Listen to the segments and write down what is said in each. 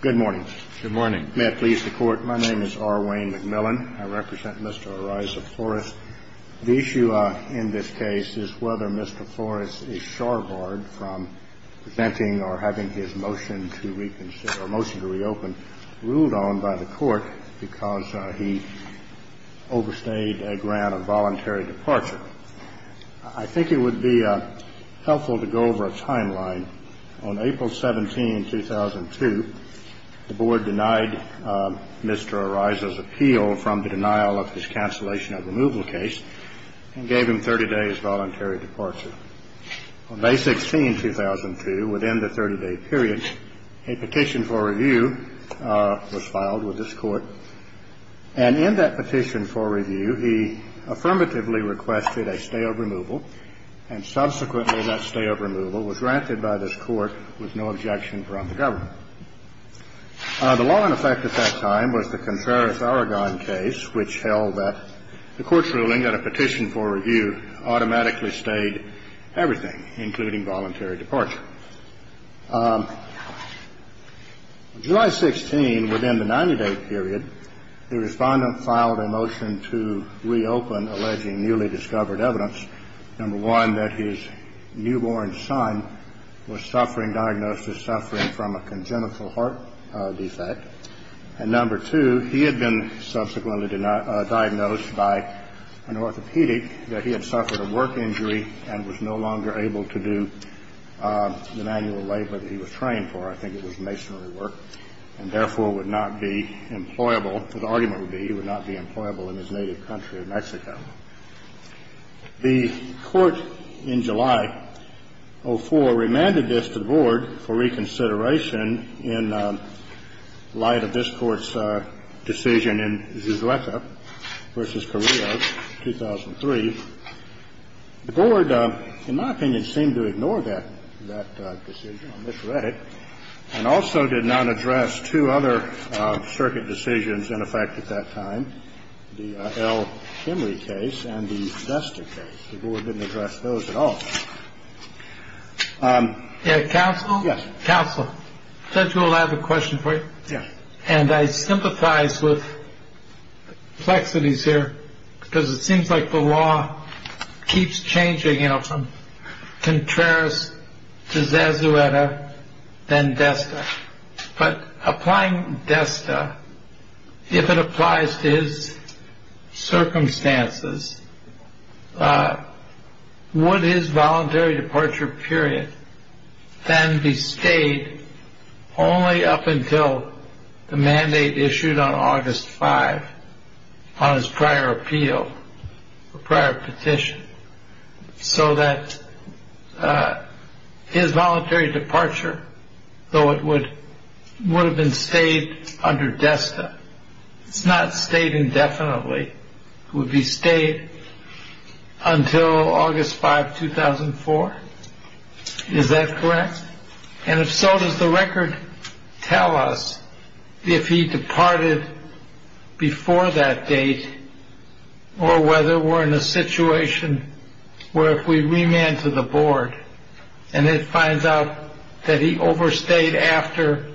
Good morning. Good morning. May it please the Court, my name is R. Wayne McMillan. I represent Mr. Eriza Flores. The issue in this case is whether Mr. Flores is shoreboard from presenting or having his motion to reconsider or motion to reopen ruled on by the Court because he overstayed a grant of voluntary departure. I think it would be helpful to go over a timeline. On April 17, 2002, the Board denied Mr. Eriza's appeal from the denial of his cancellation of removal case and gave him 30 days' voluntary departure. On May 16, 2002, within the 30-day period, a petition for review was filed with this Court. And in that petition for review, he affirmatively requested a stay of removal. And subsequently, that stay of removal was granted by this Court with no objection from the government. The law in effect at that time was the Contreras-Aragon case, which held that the Court's ruling that a petition for review automatically stayed everything, including voluntary departure. On July 16, within the 90-day period, the Respondent filed a motion to reopen alleging newly discovered evidence, number one, that his newborn son was suffering diagnosis of suffering from a congenital heart defect, and number two, he had been subsequently diagnosed by an orthopedic that he had suffered a work injury and was no longer able to do the manual labor that he was trained for. I think it was masonry work and, therefore, would not be employable. The argument would be he would not be employable in his native country of Mexico. The Court in July of 2004 remanded this to the Board for reconsideration in light of this Court's decision in Zuzueca v. Carrillo, 2003. The Board, in my opinion, seemed to ignore that decision on this Reddit and also did not address two other circuit decisions in effect at that time, the L. Henry case and the Vesta case. The Board didn't address those at all. Yeah. Counsel. Yes. Counsel said you will have a question for you. Yeah. And I sympathize with complexities here because it seems like the law keeps changing, you know, from Contreras to Zuzueca, then Vesta. But applying Vesta, if it applies to his circumstances, would his voluntary departure period then be stayed only up until the mandate issued on August 5 on his prior appeal, prior petition, so that his voluntary departure, though it would have been stayed under Vesta. It's not stayed indefinitely. It would be stayed until August 5, 2004. Is that correct? And if so, does the record tell us if he departed before that date or whether we're in a situation where if we remand to the Board and it finds out that he overstayed after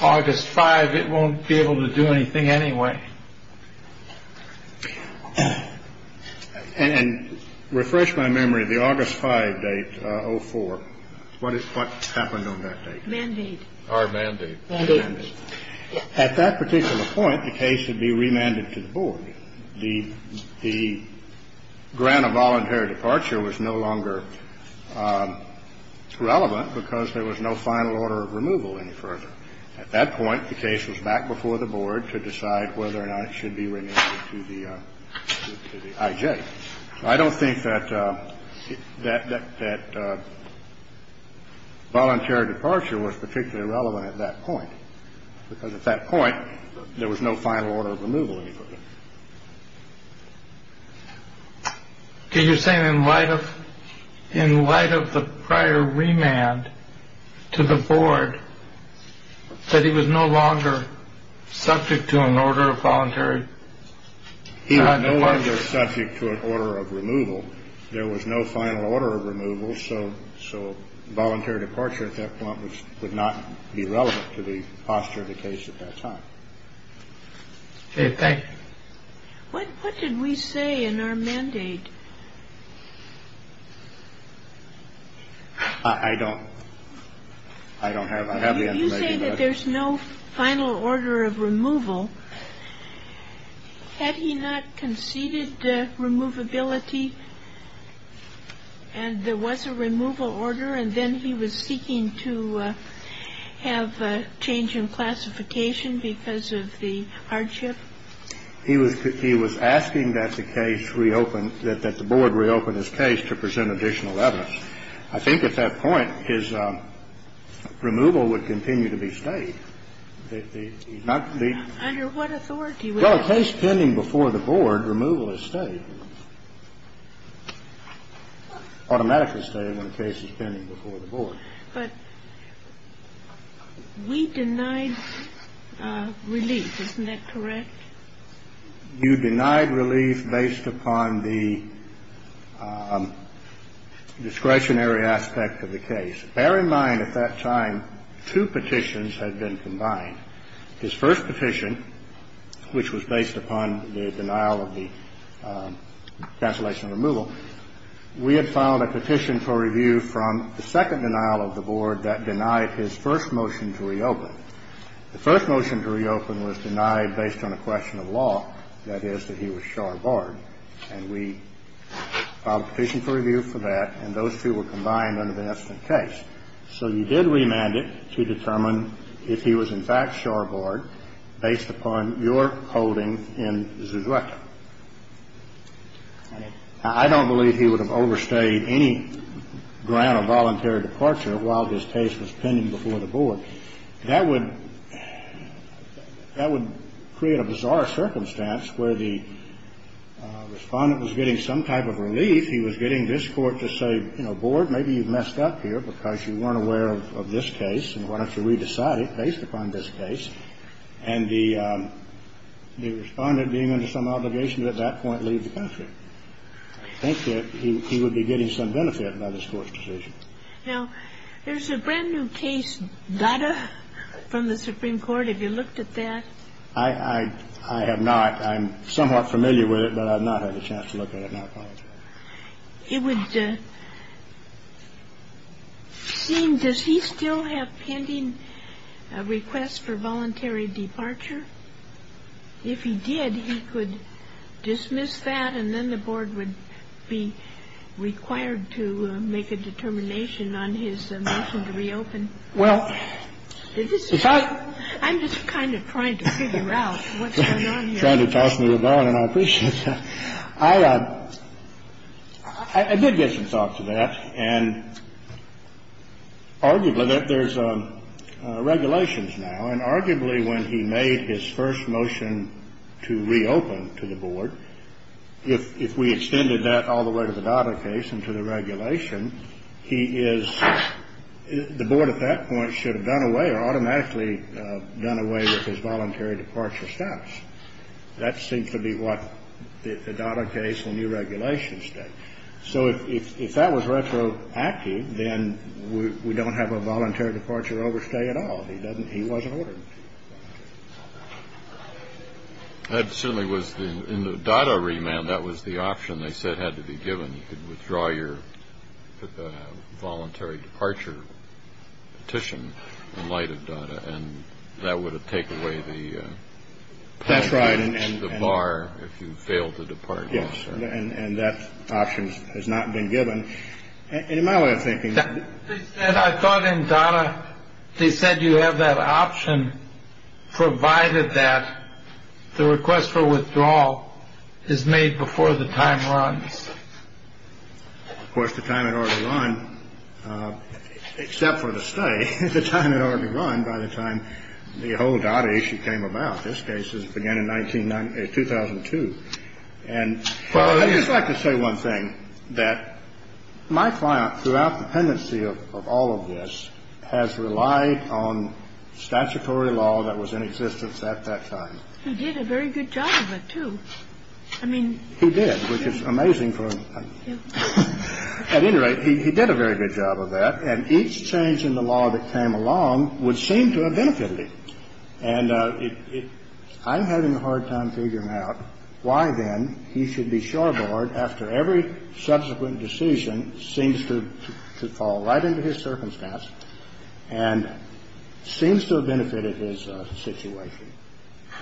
August 5, it won't be able to do anything anyway. And refresh my memory. The August 5 date, 04, what happened on that date? Mandate. Or mandate. Mandate. At that particular point, the case would be remanded to the Board. The grant of voluntary departure was no longer relevant because there was no final order of removal any further. At that point, the case was back before the Board to decide whether or not it should be remanded to the IJ. I don't think that voluntary departure was particularly relevant at that point because at that point, there was no final order of removal any further. Can you say in light of in light of the prior remand to the Board that he was no longer subject to an order of voluntary? He was no longer subject to an order of removal. There was no final order of removal. So so voluntary departure at that point would not be relevant to the posture of the case at that time. Thank you. What did we say in our mandate? I don't. I don't have I have. You say that there's no final order of removal. Had he not conceded removability and there was a removal order and then he was seeking to have a change in classification because of the hardship. He was he was asking that the case reopened that the Board reopened his case to present additional evidence. I think at that point, his removal would continue to be stayed. Under what authority? Well, a case pending before the Board, removal is stayed, automatically stayed when a case is pending before the Board. But we denied relief. Isn't that correct? You denied relief based upon the discretionary aspect of the case. Bear in mind, at that time, two petitions had been combined. His first petition, which was based upon the denial of the cancellation removal, we had filed a petition for review from the second denial of the Board that denied his first motion to reopen. The first motion to reopen was denied based on a question of law, that is, that he was shore board. And we filed a petition for review for that, and those two were combined under the incident case. So you did remand it to determine if he was in fact shore board based upon your holding in Zuzueka. I don't believe he would have overstayed any grant or voluntary departure while his case was pending before the Board. That would create a bizarre circumstance where the Respondent was getting some type of relief. He was getting this Court to say, you know, Board, maybe you've messed up here because you weren't aware of this case, and why don't you re-decide it based upon this case. And the Respondent being under some obligation to at that point leave the country. I think that he would be getting some benefit by this Court's decision. Now, there's a brand new case, Dada, from the Supreme Court. Have you looked at that? I have not. I'm somewhat familiar with it, but I've not had a chance to look at it. I apologize. It would seem, does he still have pending requests for voluntary departure? If he did, he could dismiss that, and then the Board would be required to make a determination on his motion to reopen. Well, if I. I'm just kind of trying to figure out what's going on here. I did get some thoughts of that. And arguably there's regulations now. And arguably when he made his first motion to reopen to the Board, if we extended that all the way to the Dada case and to the regulation, he is, the Board at that point should have done away or automatically done away with his voluntary departure status. That seems to be what the Dada case and new regulations did. So if that was retroactive, then we don't have a voluntary departure overstay at all. He doesn't. He wasn't ordered to. That certainly was. In the Dada remand, that was the option they said had to be given. And you could withdraw your voluntary departure petition in light of data. And that would take away the. That's right. And the bar, if you fail to depart. Yes. And that option has not been given. In my way of thinking. And I thought in Dada they said you have that option, provided that the request for withdrawal is made before the time runs. Of course, the time in order to run, except for the study, the time in order to run by the time the whole Dada issue came about. This case is began in 1990, 2002. And I'd just like to say one thing that my client throughout the pendency of all of this has relied on statutory law that was in existence at that time. He did a very good job of it, too. I mean, he did, which is amazing. At any rate, he did a very good job of that. And each change in the law that came along would seem to have benefited me. And I'm having a hard time figuring out why, then, he should be shoreboard after every subsequent decision seems to fall right into his circumstance and seems to have benefited his situation.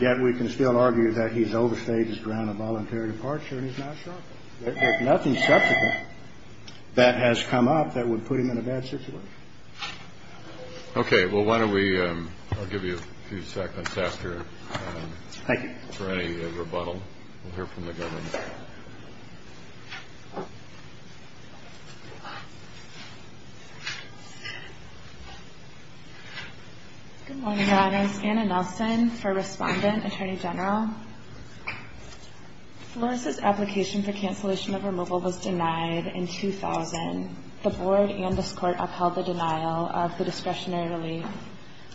Yet we can still argue that he's overstayed his ground of voluntary departure and he's not shoreboard. There's nothing subsequent that has come up that would put him in a bad situation. Okay. Well, why don't we give you a few seconds after for any rebuttal. We'll hear from the governor. Good morning, Your Honors. Anna Nelson for Respondent, Attorney General. Flores' application for cancellation of removal was denied in 2000. The board and this court upheld the denial of the discretionary relief.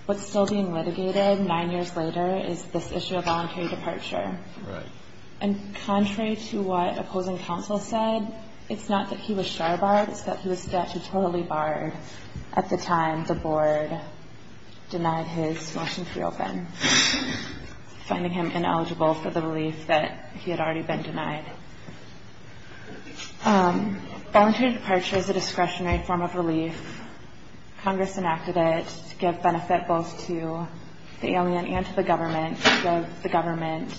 What's still being litigated nine years later is this issue of voluntary departure. Right. And contrary to what opposing counsel said, it's not that he was shoreboard. It's that his statute totally barred at the time the board denied his motion to reopen, finding him ineligible for the relief that he had already been denied. Voluntary departure is a discretionary form of relief. Congress enacted it to give benefit both to the alien and to the government, to give the government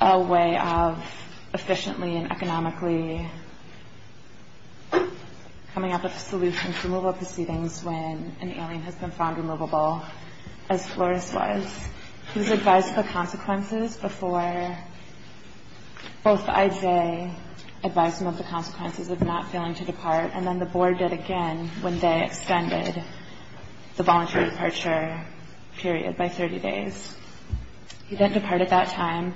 a way of efficiently and economically coming up with a solution to removal proceedings when an alien has been found removable, as Flores was. He was advised of the consequences before both IJ advised him of the consequences of not failing to depart, and then the board did again when they extended the voluntary departure period by 30 days. He didn't depart at that time.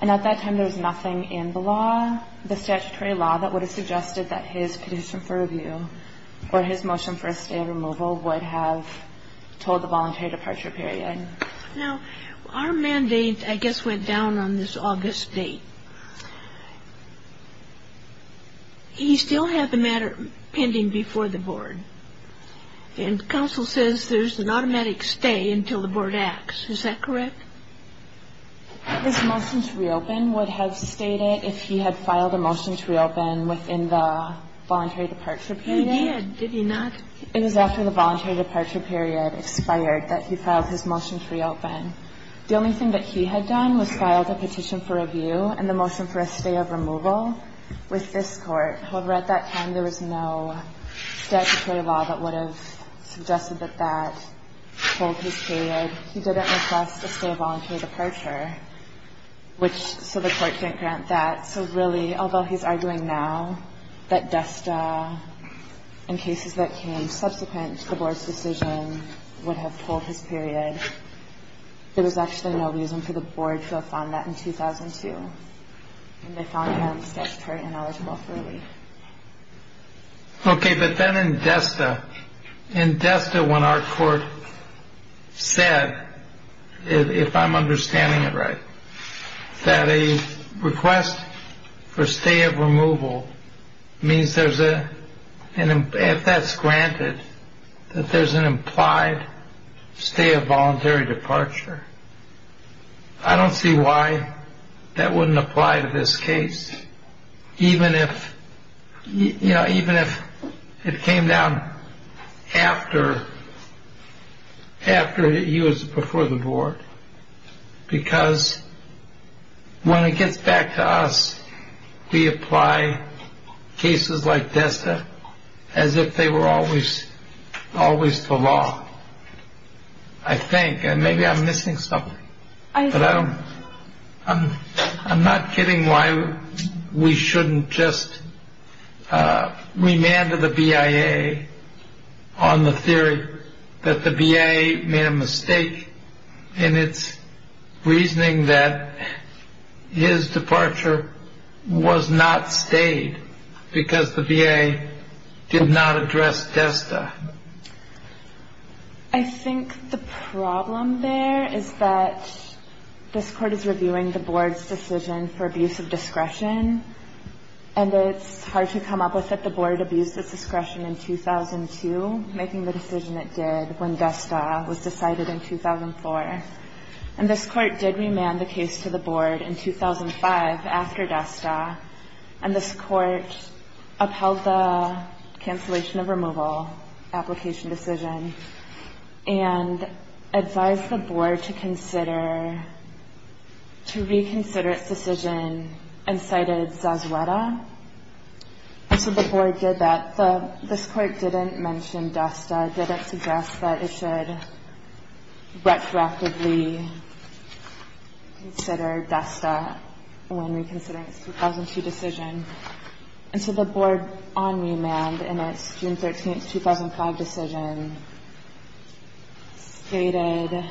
And at that time, there was nothing in the law, the statutory law, that would have suggested that his petition for review or his motion for a stay of removal would have told the voluntary departure period. Now, our mandate, I guess, went down on this August date. He still had the matter pending before the board. And counsel says there's an automatic stay until the board acts. Is that correct? This motion to reopen would have stated, if he had filed a motion to reopen within the voluntary departure period? He did. Did he not? It was after the voluntary departure period expired that he filed his motion to reopen. The only thing that he had done was filed a petition for review and the motion for a stay of removal with this Court. However, at that time, there was no statutory law that would have suggested that that told his period. He didn't request a stay of voluntary departure, so the Court can't grant that. So really, although he's arguing now that DESTA and cases that came subsequent to the board's decision would have told his period, there was actually no reason for the board to have found that in 2002. And they found him statutorily ineligible for relief. Okay, but then in DESTA, in DESTA, when our Court said, if I'm understanding it right, that a request for stay of removal means there's a, if that's granted, that there's an implied stay of voluntary departure. I don't see why that wouldn't apply to this case, even if, you know, even if it came down after he was before the board. Because when it gets back to us, we apply cases like DESTA as if they were always the law, I think. And maybe I'm missing something. I'm not kidding why we shouldn't just remand to the BIA on the theory that the BIA made a mistake in its reasoning that his departure was not stayed because the BIA did not address DESTA. I think the problem there is that this Court is reviewing the board's decision for abuse of discretion, and it's hard to come up with that the board abused its discretion in 2002, making the decision it did when DESTA was decided in 2004. And this Court did remand the case to the board in 2005 after DESTA, and this Court upheld the cancellation of removal application decision and advised the board to consider, to reconsider its decision and cited Zazueta. So the board did that. This Court didn't mention DESTA, didn't suggest that it should retroactively consider DESTA when reconsidering its 2002 decision. And so the board, on remand, in its June 13, 2005 decision, stated,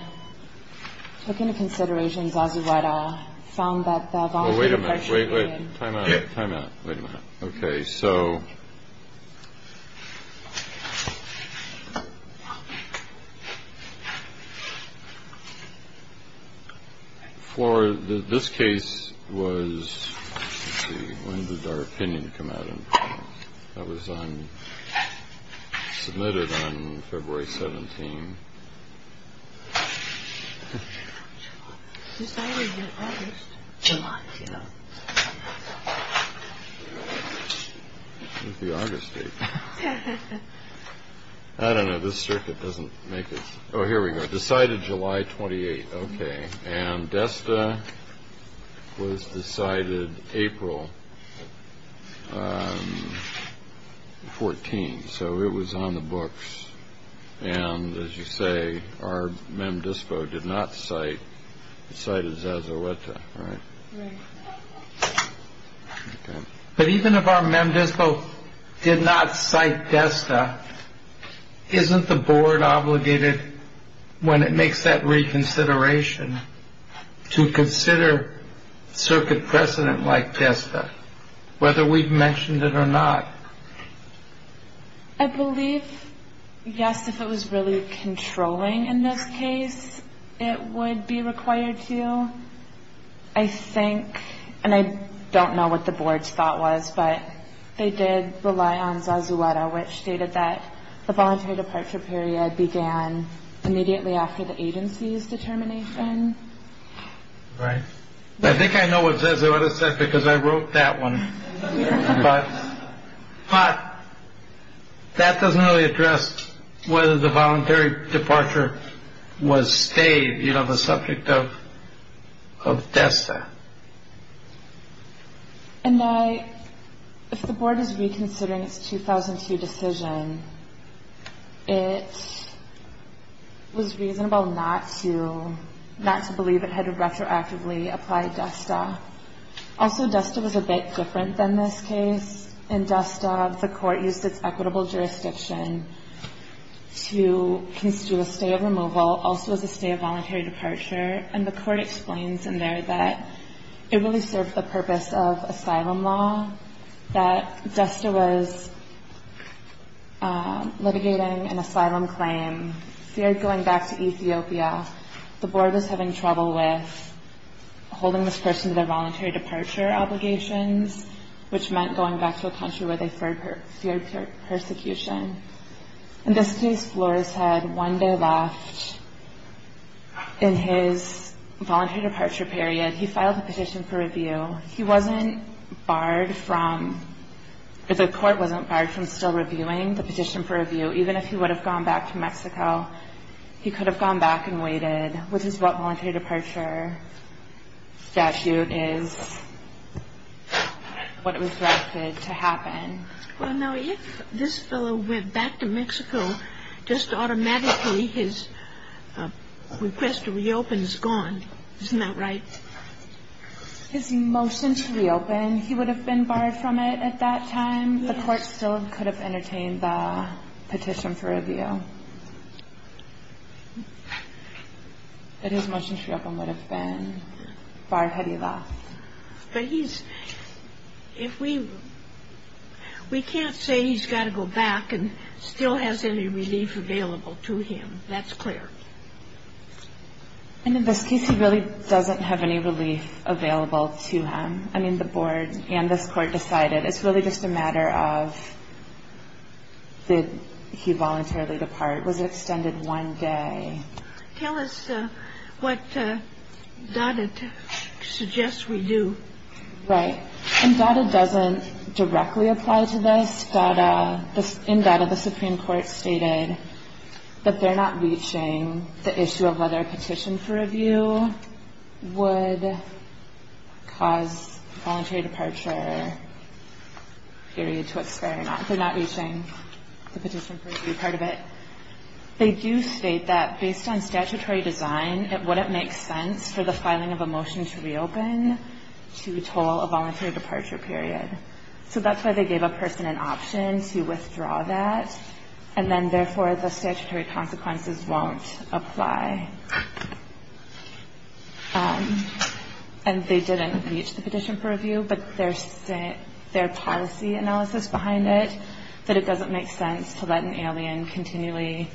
took into consideration Zazueta, found that the voluntary... Oh, wait a minute. Wait, wait. Time out. Time out. Wait a minute. OK, so. For this case was when did our opinion come out? That was on... submitted on February 17. Decided in August. July, yeah. It was the August date. I don't know. This circuit doesn't make it... Oh, here we go. Decided July 28. OK. And DESTA was decided April 14. So it was on the books. And as you say, our MEMDISPO did not cite, cited Zazueta, right? Right. But even if our MEMDISPO did not cite DESTA, isn't the board obligated, when it makes that reconsideration, to consider circuit precedent like DESTA, whether we've mentioned it or not? I believe, yes, if it was really controlling in this case, it would be required to. I think, and I don't know what the board's thought was, but they did rely on Zazueta, which stated that the voluntary departure period began immediately after the agency's determination. Right. I think I know what Zazueta said because I wrote that one. But that doesn't really address whether the voluntary departure was stayed. You know, the subject of DESTA. And I, if the board is reconsidering its 2002 decision, it was reasonable not to, not to believe it had retroactively applied DESTA. Also, DESTA was a bit different than this case. In DESTA, the court used its equitable jurisdiction to constitute a stay of removal, also as a stay of voluntary departure. And the court explains in there that it really served the purpose of asylum law, that DESTA was litigating an asylum claim, feared going back to Ethiopia. The board was having trouble with holding this person to their voluntary departure obligations, which meant going back to a country where they feared persecution. In this case, Flores had one day left in his voluntary departure period. He filed a petition for review. He wasn't barred from, or the court wasn't barred from still reviewing the petition for review. Even if he would have gone back to Mexico, he could have gone back and waited, which is what voluntary departure statute is, what it was directed to happen. Well, now, if this fellow went back to Mexico, just automatically his request to reopen is gone. Isn't that right? His motion to reopen, he would have been barred from it at that time. The court still could have entertained the petition for review. But his motion to reopen would have been barred had he left. But he's, if we, we can't say he's got to go back and still has any relief available to him. That's clear. And in this case, he really doesn't have any relief available to him. I mean, the board and this court decided it's really just a matter of did he voluntarily depart? Was it extended one day? Tell us what DADA suggests we do. Right. And DADA doesn't directly apply to this. In DADA, the Supreme Court stated that they're not reaching the issue of whether a petition for review would cause voluntary departure, period, to expire. They're not reaching the petition for review part of it. They do state that based on statutory design, it wouldn't make sense for the filing of a motion to reopen to toll a voluntary departure period. So that's why they gave a person an option to withdraw that. And then, therefore, the statutory consequences won't apply. But their policy analysis behind it, that it doesn't make sense to let an alien continually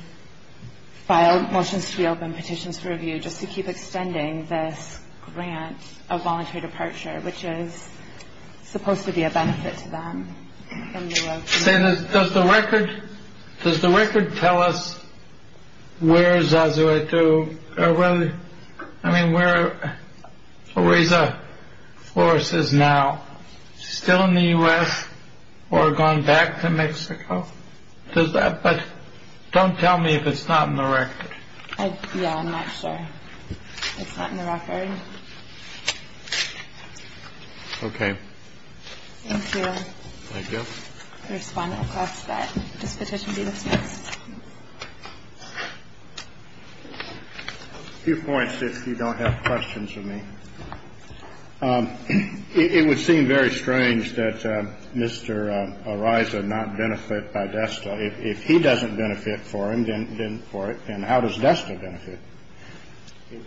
file motions to reopen, petitions for review, just to keep extending this grant of voluntary departure, which is supposed to be a benefit to them. Does the record tell us where Zazuitu, I mean, where Orisa Flores is now? Still in the U.S. or gone back to Mexico? But don't tell me if it's not in the record. Yeah, I'm not sure. It's not in the record. Okay. Thank you. Thank you. I'll respond across that. Does the petition be dismissed? A few points, if you don't have questions for me. It would seem very strange that Mr. Orisa not benefit by DESTA. If he doesn't benefit for him, then for it. And how does DESTA benefit?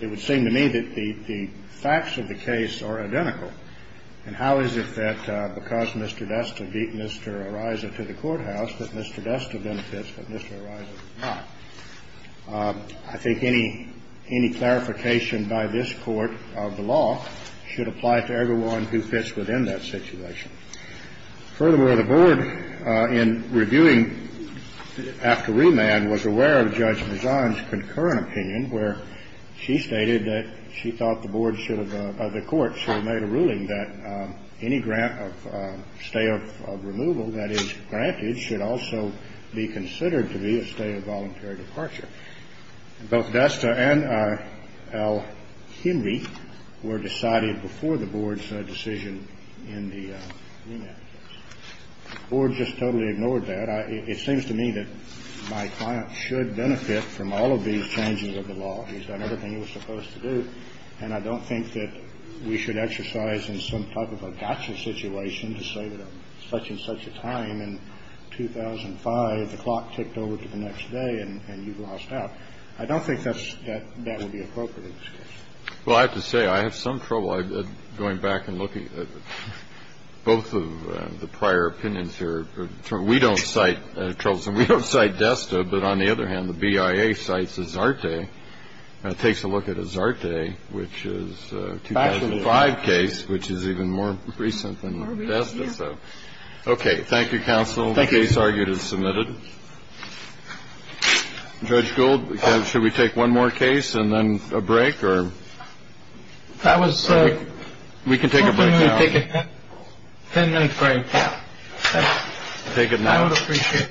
It would seem to me that the facts of the case are identical. And how is it that because Mr. DESTA beat Mr. Orisa to the courthouse, that Mr. DESTA benefits, but Mr. Orisa does not? I think any clarification by this Court of the law should apply to everyone who fits within that situation. Furthermore, the Board, in reviewing after remand, was aware of Judge Mazan's concurrent opinion, where she stated that she thought the Board should have, the Court should have made a ruling that any grant of stay of removal that is granted should also be considered to be a stay of voluntary departure. Both DESTA and Al-Himri were decided before the Board's decision in the remand case. The Board just totally ignored that. It seems to me that my client should benefit from all of these changes of the law. He's done everything he was supposed to do. And I don't think that we should exercise in some type of a gotcha situation to say that at such and such a time in 2005, the clock ticked over to the next day and you've lost out. I don't think that's that would be appropriate. Well, I have to say, I have some trouble going back and looking at both of the prior opinions here. We don't cite Troublesome. We don't cite DESTA. But on the other hand, the BIA cites Azarte. And it takes a look at Azarte, which is a 2005 case, which is even more recent than DESTA. So, OK. Thank you, counsel. The case argued is submitted. Judge Gould, should we take one more case and then a break? Or that was so we can take a break. Take a 10 minute break. Take it. I would appreciate.